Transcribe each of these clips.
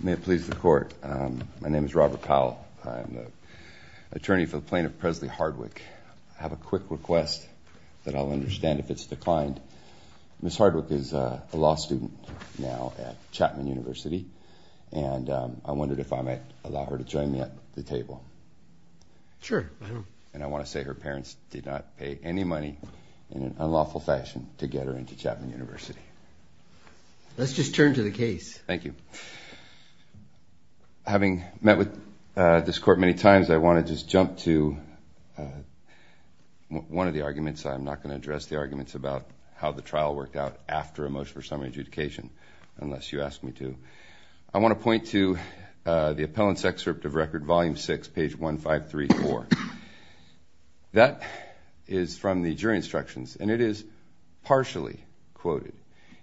May it please the court. My name is Robert Powell. I'm the attorney for the plaintiff Presley Hardwick. I have a quick request that I'll understand if it's declined. Ms. Hardwick is a law student now at Chapman University and I wondered if I might allow her to join me at the table. Sure. And I want to say her parents did not pay any money in an unlawful fashion to get her into Chapman University. Let's just turn to the case. Thank you. Having met with this court many times I want to just jump to one of the arguments. I'm not going to address the arguments about how the trial worked out after a motion for summary adjudication unless you ask me to. I want to point to the appellant's excerpt of Record Volume 6, page 1534. That is from the jury instructions and it is partially quoted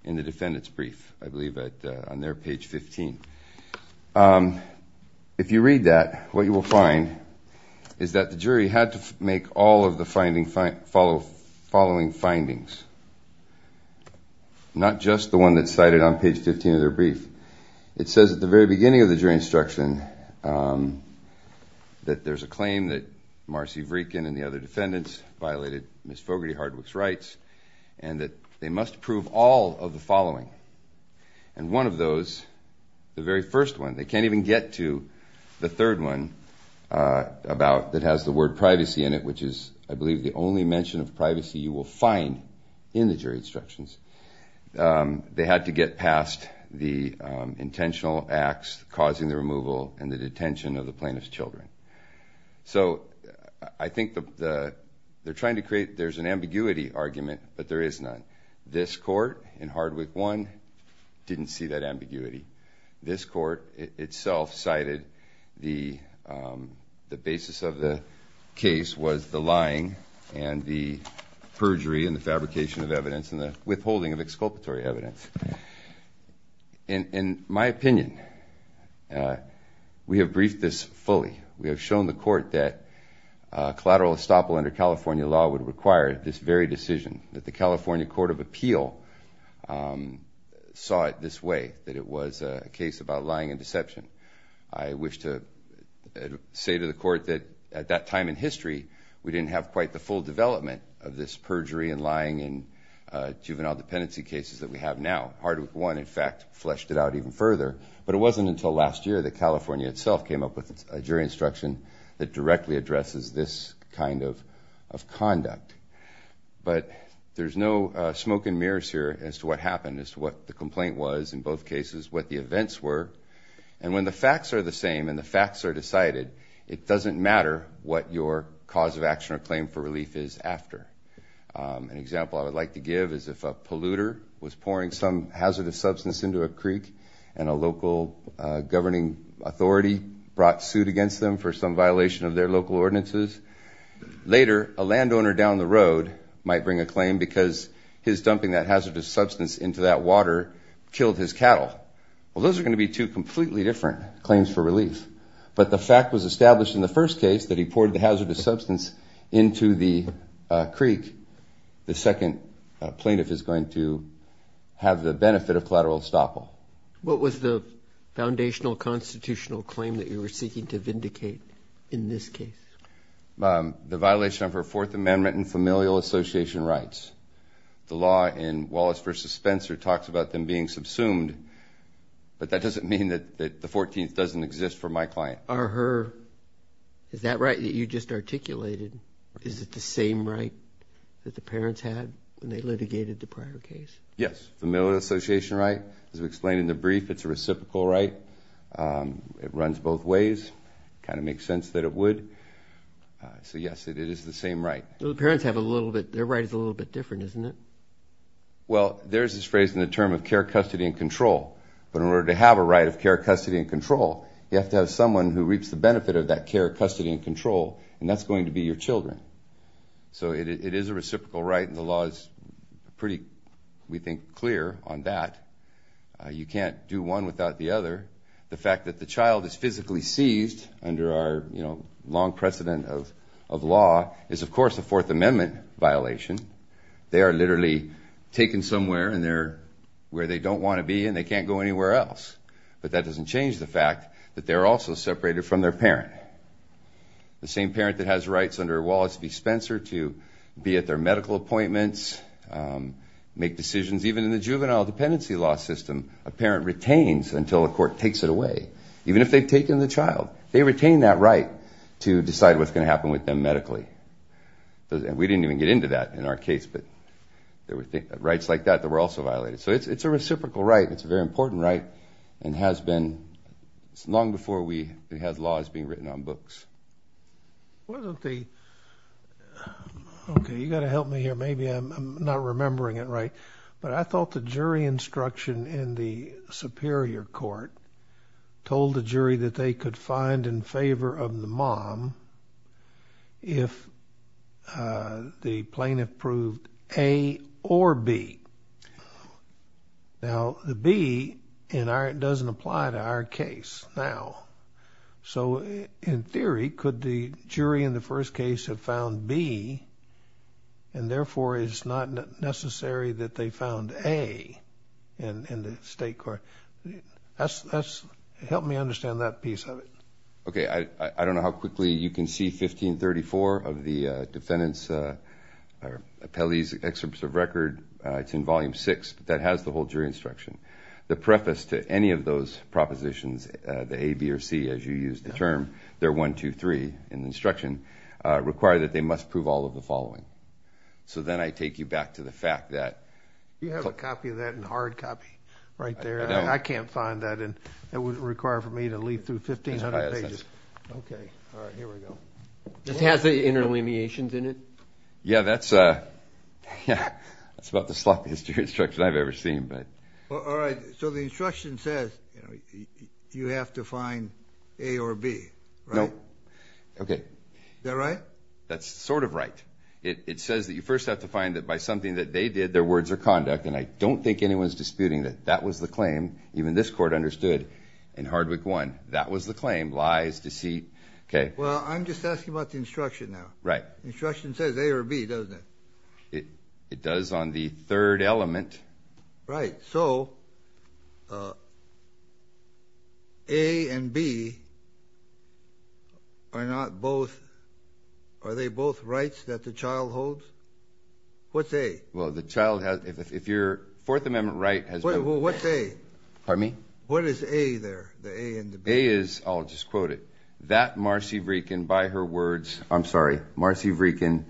in the defendant's brief, I believe on their page 15. If you read that, what you will find is that the jury had to make all of the following findings, not just the one that's cited on page 15 of their brief. It says at the very beginning of the jury instruction that there's a claim that Marcy Vreekin and the other defendants violated Ms. Fogarty Hardwick's rights and that they must prove all of the following. And one of those, the very first one, they can't even get to the third one that has the word privacy in it, which is I believe the only mention of privacy you will find in the jury instructions. They had to get past the intentional acts causing the removal and the detention of the plaintiff's children. So I think they're trying to create, there's an ambiguity argument, but there is none. This court in Hardwick 1 didn't see that ambiguity. This court itself cited the basis of the case was the lying and the perjury and the fabrication of evidence and the withholding of exculpatory evidence. In my opinion, we have briefed this fully. We have shown the court that collateral estoppel under California law would require this very decision, that the California Court of Appeal saw it this way, that it was a case about lying and deception. I wish to say to the court that at that time in history, we didn't have quite the full development of this perjury and lying and juvenile dependency cases that we have now. Hardwick 1, in fact, fleshed it out even further. But it wasn't until last year that California itself came up with a jury instruction that directly addresses this kind of conduct. But there's no smoke and mirrors here as to what happened, as to what the complaint was in both cases, what the events were. And when the facts are the same and the facts are decided, it doesn't matter what your cause of action or claim for relief is after. An example I would like to give is if a polluter was pouring some hazardous substance into a creek and a local governing authority brought suit against them for some violation of their local ordinances. Later, a landowner down the road might bring a claim because his dumping that hazardous substance into that water killed his cattle. Well, those are going to be two completely different claims for relief. But the fact was established in the first case that he poured the hazardous substance into the creek, the second plaintiff is going to have the benefit of collateral estoppel. What was the foundational constitutional claim that you were seeking to vindicate in this case? The violation of her Fourth Amendment and familial association rights. The law in Wallace v. Spencer talks about them being subsumed, but that doesn't mean that the 14th doesn't exist for my client. Is that right that you just articulated? Is it the same right that the parents had when they litigated the prior case? Yes, familial association right. As we explained in the brief, it's a reciprocal right. It runs both ways. It kind of makes sense that it would. So, yes, it is the same right. The parents have a little bit. Their right is a little bit different, isn't it? Well, there's this phrase in the term of care, custody, and control. But in order to have a right of care, custody, and control, you have to have someone who reaps the benefit of that care, custody, and control, and that's going to be your children. So it is a reciprocal right, and the law is pretty, we think, clear on that. You can't do one without the other. The fact that the child is physically seized under our long precedent of law is, of course, a Fourth Amendment violation. They are literally taken somewhere, and they're where they don't want to be, and they can't go anywhere else. But that doesn't change the fact that they're also separated from their parent. The same parent that has rights under Wallace v. Spencer to be at their medical appointments, make decisions. Even in the juvenile dependency law system, a parent retains until a court takes it away, even if they've taken the child. They retain that right to decide what's going to happen with them medically. We didn't even get into that in our case, but there were rights like that that were also violated. So it's a reciprocal right. It's a very important right and has been long before we had laws being written on books. Wasn't the, okay, you've got to help me here. Maybe I'm not remembering it right, but I thought the jury instruction in the superior court told the jury that they could find in favor of the mom if the plaintiff proved A or B. Now, the B doesn't apply to our case now. So in theory, could the jury in the first case have found B, and therefore it's not necessary that they found A in the state court? Help me understand that piece of it. Okay. I don't know how quickly you can see 1534 of the defendant's or appellee's excerpts of record. It's in volume six, but that has the whole jury instruction. The preface to any of those propositions, the A, B, or C, as you used the term, they're one, two, three in the instruction, require that they must prove all of the following. So then I take you back to the fact that. You have a copy of that in hard copy right there. I can't find that, and it wouldn't require for me to leaf through 1,500 pages. Okay. All right. Here we go. This has the interleviations in it? Yeah, that's about the sloppiest jury instruction I've ever seen. All right. So the instruction says you have to find A or B, right? No. Okay. Is that right? That's sort of right. It says that you first have to find that by something that they did, their words or conduct, and I don't think anyone's disputing that that was the claim. Even this court understood in hard book one, that was the claim, lies, deceit. Okay. Well, I'm just asking about the instruction now. Right. The instruction says A or B, doesn't it? It does on the third element. Right. So A and B are not both ñ are they both rights that the child holds? What's A? Well, the child has ñ if your Fourth Amendment right has been ñ Well, what's A? Pardon me? What is A there, the A and the B? A is, I'll just quote it, I'm sorry, Marcy Vreekin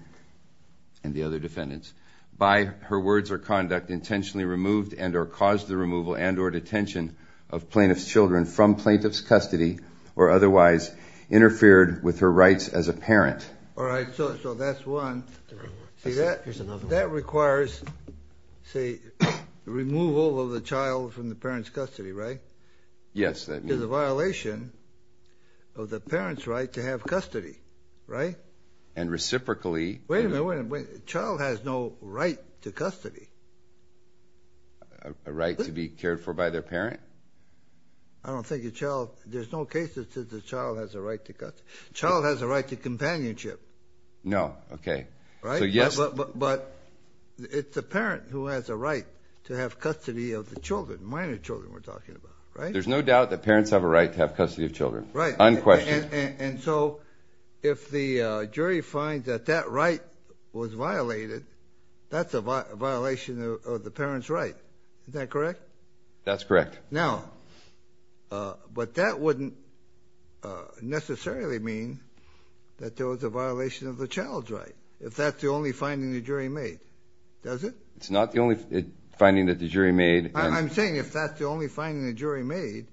and the other defendants. All right. So that's one. See, that requires, say, removal of the child from the parent's custody, right? Yes, that means. Which is a violation of the parent's right to have custody, right? And reciprocally. Wait a minute, wait a minute. The child has no right to custody. A right to be cared for by their parent? I don't think a child ñ there's no case that says the child has a right to custody. The child has a right to companionship. No. Okay. Right? So yes. But it's the parent who has a right to have custody of the children, minor children we're talking about, right? There's no doubt that parents have a right to have custody of children. Right. Unquestioned. And so if the jury finds that that right was violated, that's a violation of the parent's right. Is that correct? That's correct. Now, but that wouldn't necessarily mean that there was a violation of the child's right, if that's the only finding the jury made, does it? It's not the only finding that the jury made. I'm saying if that's the only finding the jury made,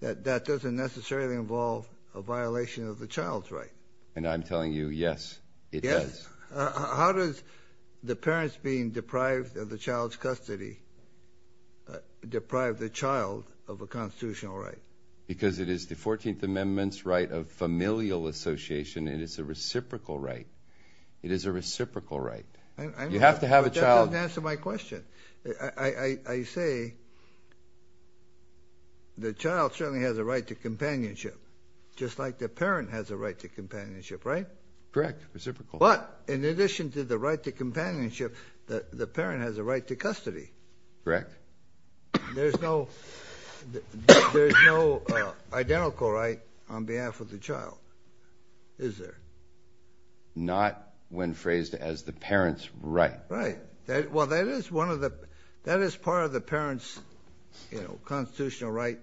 that that doesn't necessarily involve a violation of the child's right. And I'm telling you, yes, it does. Yes. How does the parents being deprived of the child's custody deprive the child of a constitutional right? Because it is the 14th Amendment's right of familial association. It is a reciprocal right. It is a reciprocal right. You have to have a child ñ But that doesn't answer my question. I say the child certainly has a right to companionship, just like the parent has a right to companionship, right? Correct. Reciprocal. But in addition to the right to companionship, the parent has a right to custody. Correct. There's no identical right on behalf of the child, is there? Not when phrased as the parent's right. Right. Well, that is part of the parent's constitutional right,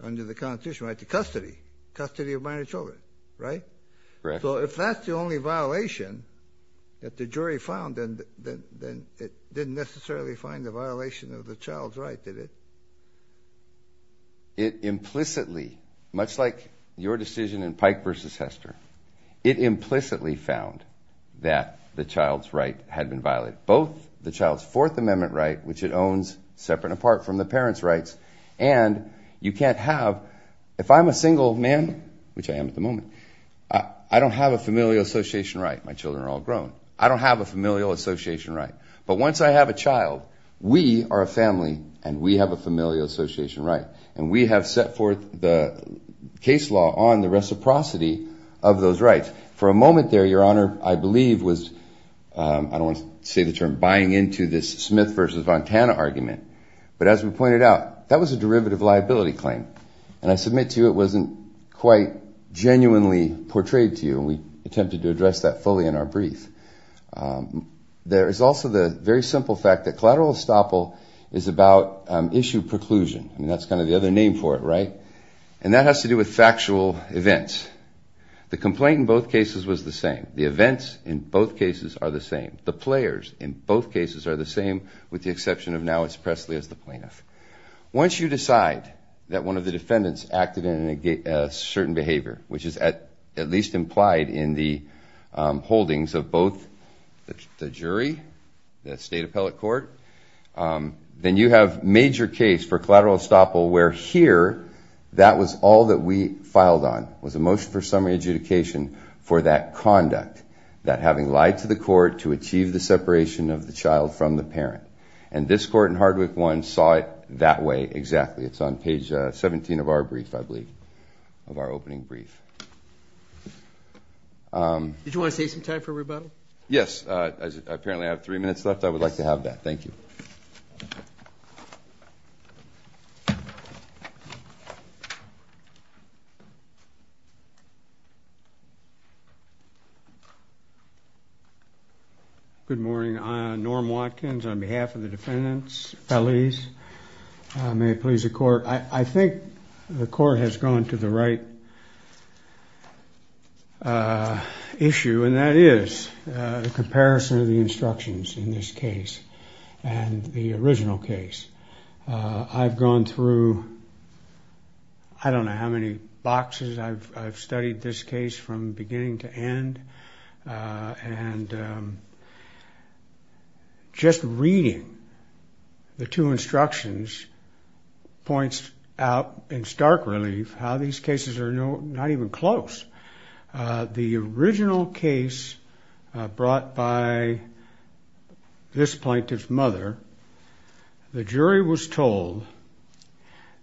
under the constitutional right to custody, custody of minor children, right? Correct. So if that's the only violation that the jury found, then it didn't necessarily find a violation of the child's right, did it? It implicitly, much like your decision in Pike v. Hester, it implicitly found that the child's right had been violated. Both the child's Fourth Amendment right, which it owns separate and apart from the parent's rights, and you can't have ñ if I'm a single man, which I am at the moment, I don't have a familial association right. My children are all grown. I don't have a familial association right. But once I have a child, we are a family, and we have a familial association right, and we have set forth the case law on the reciprocity of those rights. For a moment there, Your Honor, I believe was ñ I don't want to say the term ñ buying into this Smith v. Montana argument, but as we pointed out, that was a derivative liability claim, and I submit to you it wasn't quite genuinely portrayed to you, and we attempted to address that fully in our brief. There is also the very simple fact that collateral estoppel is about issue preclusion, and that's kind of the other name for it right, and that has to do with factual events. The complaint in both cases was the same. The events in both cases are the same. The players in both cases are the same, with the exception of now it's Presley as the plaintiff. Once you decide that one of the defendants acted in a certain behavior, which is at least implied in the holdings of both the jury, the state appellate court, then you have major case for collateral estoppel where here that was all that we filed on, was a motion for summary adjudication for that conduct, that having lied to the court to achieve the separation of the child from the parent. And this court in Hardwick 1 saw it that way exactly. It's on page 17 of our brief, I believe, of our opening brief. Did you want to save some time for rebuttal? Yes. Apparently I have three minutes left. I would like to have that. Thank you. Good morning. Norm Watkins on behalf of the defendants. Feliz. May it please the court. I think the court has gone to the right issue, and that is the comparison of the instructions in this case and the original case. I've gone through I don't know how many boxes. I've studied this case from beginning to end. And just reading the two instructions points out in stark relief how these cases are not even close. The original case brought by this plaintiff's mother, the jury was told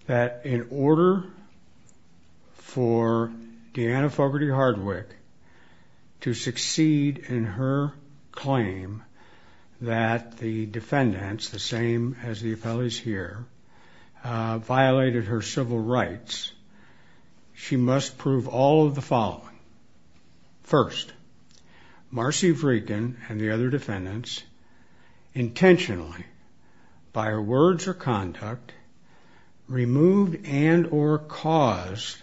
that in order for Deanna Fogarty Hardwick to succeed in her claim that the defendants, the same as the appellees here, violated her civil rights, she must prove all of the following. First, Marcy Vreegan and the other defendants intentionally, by her words or conduct, removed and or caused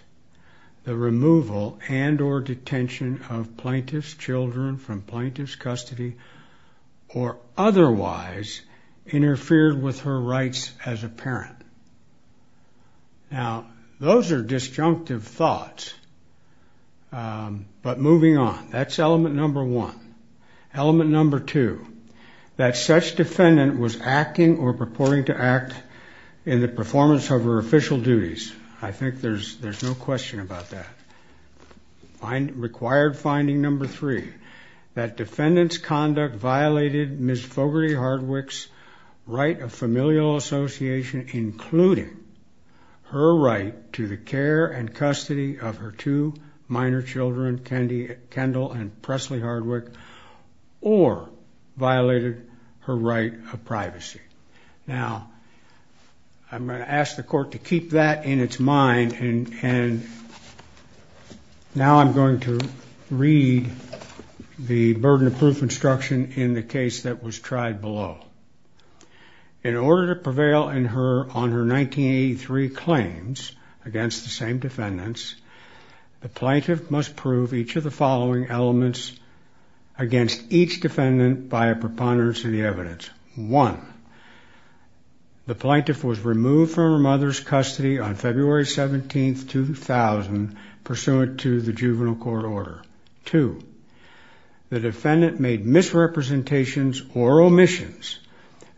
the removal and or detention of plaintiff's children from plaintiff's custody or otherwise interfered with her rights as a parent. Now, those are disjunctive thoughts. But moving on, that's element number one. Element number two, that such defendant was acting or purporting to act in the performance of her official duties. I think there's no question about that. Required finding number three, that defendant's conduct violated Ms. Fogarty Hardwick's right of familial association, including her right to the care and custody of her two minor children, Kendall and Presley Hardwick, or violated her right of privacy. Now, I'm going to ask the court to keep that in its mind, and now I'm going to read the burden of proof instruction in the case that was tried below. In order to prevail on her 1983 claims against the same defendants, the plaintiff must prove each of the following elements against each defendant by a preponderance of the evidence. One, the plaintiff was removed from her mother's custody on February 17, 2000, pursuant to the juvenile court order. Two, the defendant made misrepresentations or omissions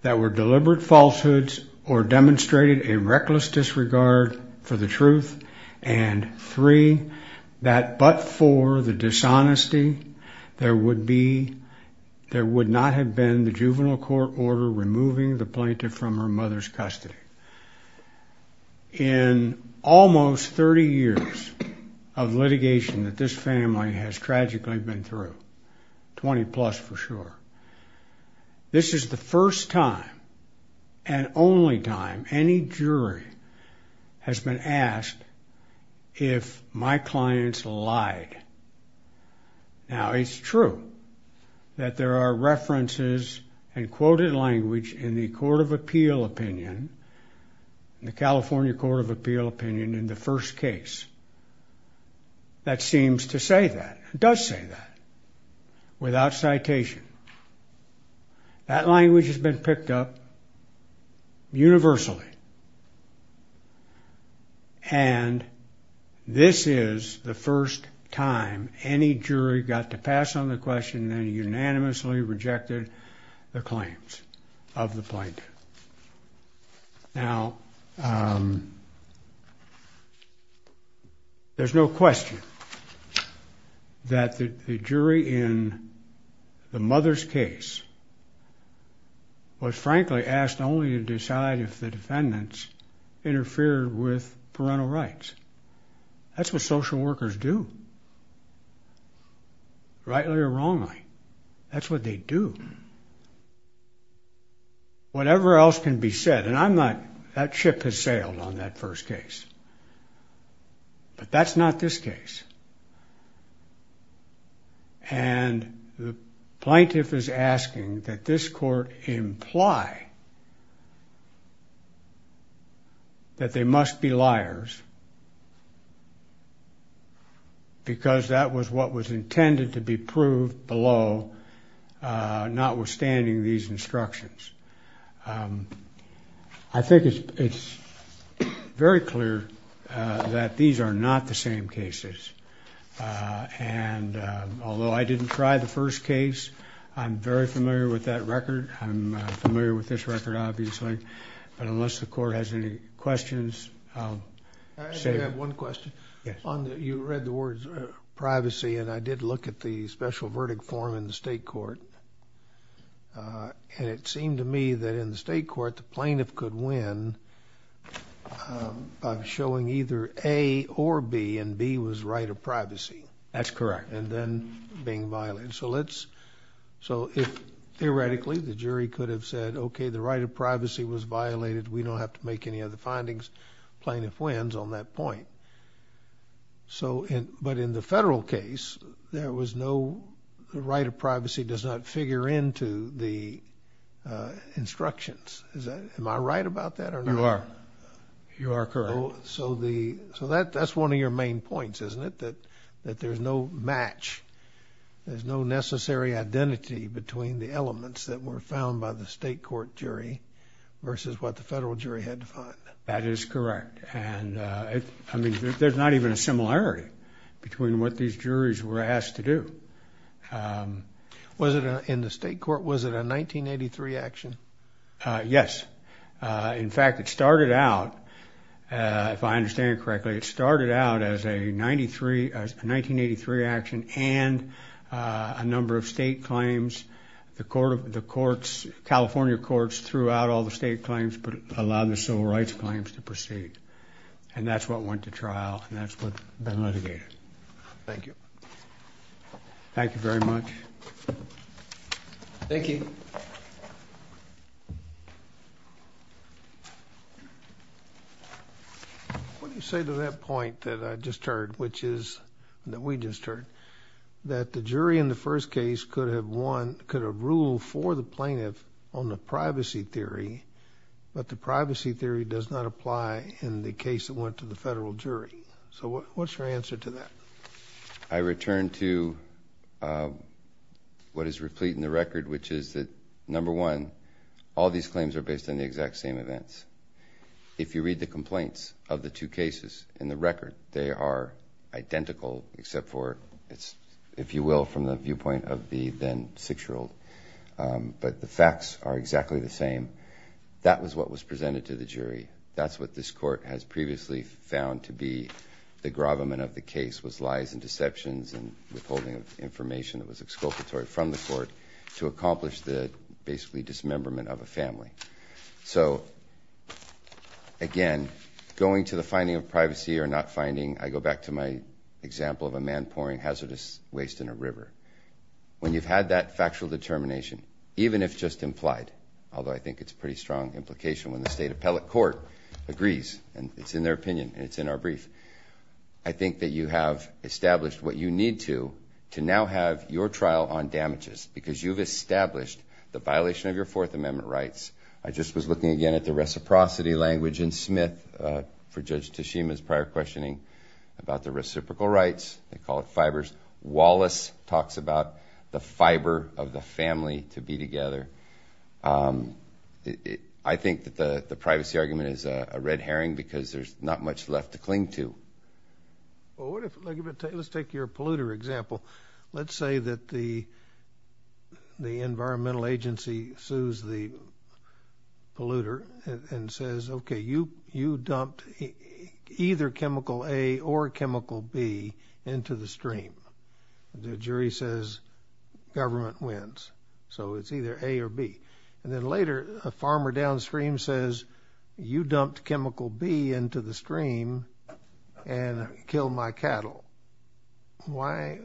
that were deliberate falsehoods or demonstrated a reckless disregard for the truth. And three, that but for the dishonesty, there would not have been the juvenile court order removing the plaintiff from her mother's custody. In almost 30 years of litigation that this family has tragically been through, 20 plus for sure, this is the first time and only time any jury has been asked if my clients lied. Now, it's true that there are references and quoted language in the Court of Appeal opinion, in the California Court of Appeal opinion in the first case that seems to say that, does say that, without citation. That language has been picked up universally, and this is the first time any jury got to pass on the question and unanimously rejected the claims of the plaintiff. Now, there's no question that the jury in the mother's case was frankly asked only to decide if the defendants interfered with parental rights. That's what social workers do, rightly or wrongly. That's what they do. Whatever else can be said, and I'm not, that ship has sailed on that first case. But that's not this case. And the plaintiff is asking that this court imply that they must be liars, because that was what was intended to be proved below, notwithstanding these instructions. I think it's very clear that these are not the same cases. And although I didn't try the first case, I'm very familiar with that record. I'm familiar with this record, obviously. But unless the court has any questions, I'll save it. I do have one question. Yes. You read the words privacy, and I did look at the special verdict form in the state court. And it seemed to me that in the state court the plaintiff could win by showing either A or B, and B was right of privacy. That's correct. And then being violated. So let's, so if theoretically the jury could have said, okay, the right of privacy was violated, we don't have to make any other findings, plaintiff wins on that point. But in the federal case, there was no right of privacy does not figure into the instructions. Am I right about that or not? You are. You are correct. So that's one of your main points, isn't it, that there's no match, there's no necessary identity between the elements that were found by the state court jury versus what the federal jury had to find. That is correct. I mean, there's not even a similarity between what these juries were asked to do. Was it in the state court, was it a 1983 action? Yes. In fact, it started out, if I understand correctly, it started out as a 1983 action and a number of state claims. The courts, California courts, threw out all the state claims but allowed the civil rights claims to proceed. And that's what went to trial and that's what's been litigated. Thank you. Thank you very much. Thank you. What do you say to that point that I just heard, which is, that we just heard, that the jury in the first case could have won, but the privacy theory does not apply in the case that went to the federal jury. So what's your answer to that? I return to what is replete in the record, which is that, number one, all these claims are based on the exact same events. If you read the complaints of the two cases in the record, they are identical except for, if you will, from the viewpoint of the then six-year-old. But the facts are exactly the same. That was what was presented to the jury. That's what this court has previously found to be the gravamen of the case, was lies and deceptions and withholding of information that was exculpatory from the court to accomplish the, basically, dismemberment of a family. So, again, going to the finding of privacy or not finding, I go back to my example of a man pouring hazardous waste in a river. When you've had that factual determination, even if just implied, although I think it's a pretty strong implication when the state appellate court agrees, and it's in their opinion and it's in our brief, I think that you have established what you need to to now have your trial on damages because you've established the violation of your Fourth Amendment rights. I just was looking again at the reciprocity language in Smith for Judge Tashima's prior questioning about the reciprocal rights. They call it fibers. Wallace talks about the fiber of the family to be together. I think that the privacy argument is a red herring because there's not much left to cling to. Let's take your polluter example. Let's say that the environmental agency sues the polluter and says, okay, you dumped either chemical A or chemical B into the stream. The jury says government wins. So it's either A or B. And then later a farmer downstream says you dumped chemical B into the stream and killed my cattle. Why?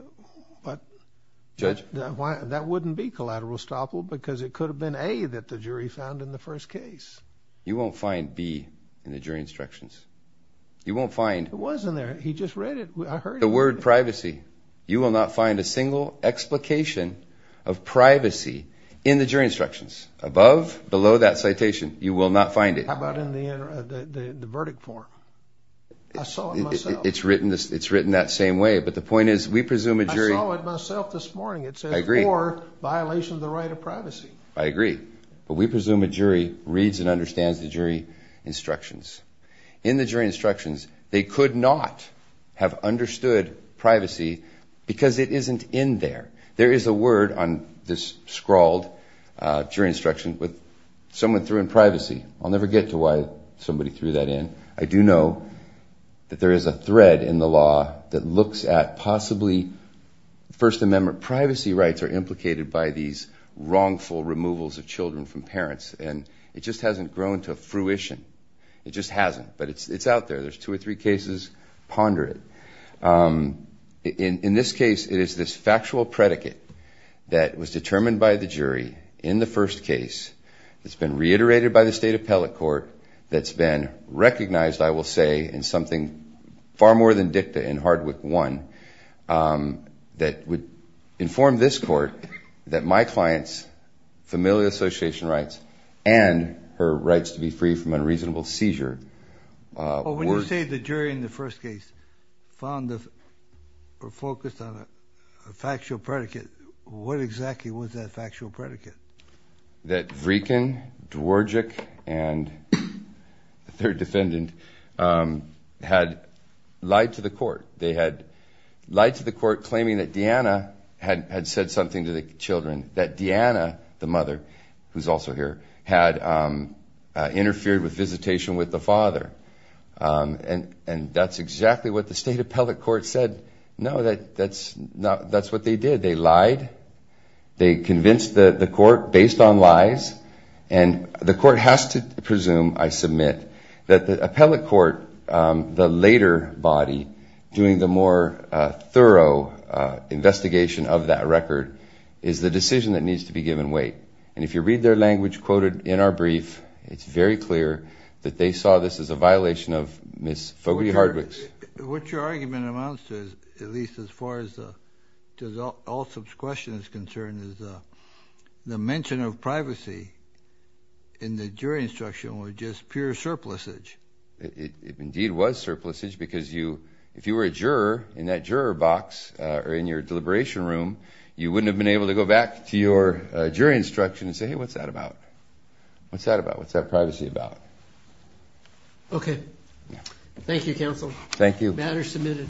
Judge? That wouldn't be collateral estoppel because it could have been A that the jury found in the first case. You won't find B in the jury instructions. You won't find. It was in there. He just read it. I heard it. The word privacy. You will not find a single explication of privacy in the jury instructions. Above, below that citation, you will not find it. How about in the verdict form? I saw it myself. It's written that same way. But the point is we presume a jury. I saw it myself this morning. I agree. It says for violation of the right of privacy. I agree. But we presume a jury reads and understands the jury instructions. In the jury instructions, they could not have understood privacy because it isn't in there. There is a word on this scrawled jury instruction with someone threw in privacy. I'll never get to why somebody threw that in. I do know that there is a thread in the law that looks at possibly First Amendment privacy rights are implicated by these wrongful removals of children from parents. And it just hasn't grown to fruition. It just hasn't. But it's out there. There's two or three cases. Ponder it. In this case, it is this factual predicate that was determined by the jury in the first case. It's been reiterated by the state appellate court. That's been recognized, I will say, in something far more than dicta in Hardwick 1. That would inform this court that my client's familial association rights and her rights to be free from unreasonable seizure. When you say the jury in the first case found or focused on a factual predicate, what exactly was that factual predicate? That Vreken, Dworczyk, and the third defendant had lied to the court. They had lied to the court claiming that Deanna had said something to the children. That Deanna, the mother, who's also here, had interfered with visitation with the father. And that's exactly what the state appellate court said. No, that's what they did. They lied. They convinced the court based on lies. And the court has to presume, I submit, that the appellate court, the later body, doing the more thorough investigation of that record is the decision that needs to be given weight. And if you read their language quoted in our brief, it's very clear that they saw this as a violation of Ms. Fogarty-Hardwick's. What your argument amounts to, at least as far as the all-subs question is concerned, is the mention of privacy in the jury instruction was just pure surplusage. It indeed was surplusage because if you were a juror in that juror box or in your deliberation room, you wouldn't have been able to go back to your jury instruction and say, hey, what's that about? What's that about? What's that privacy about? Okay. Thank you, counsel. Thank you.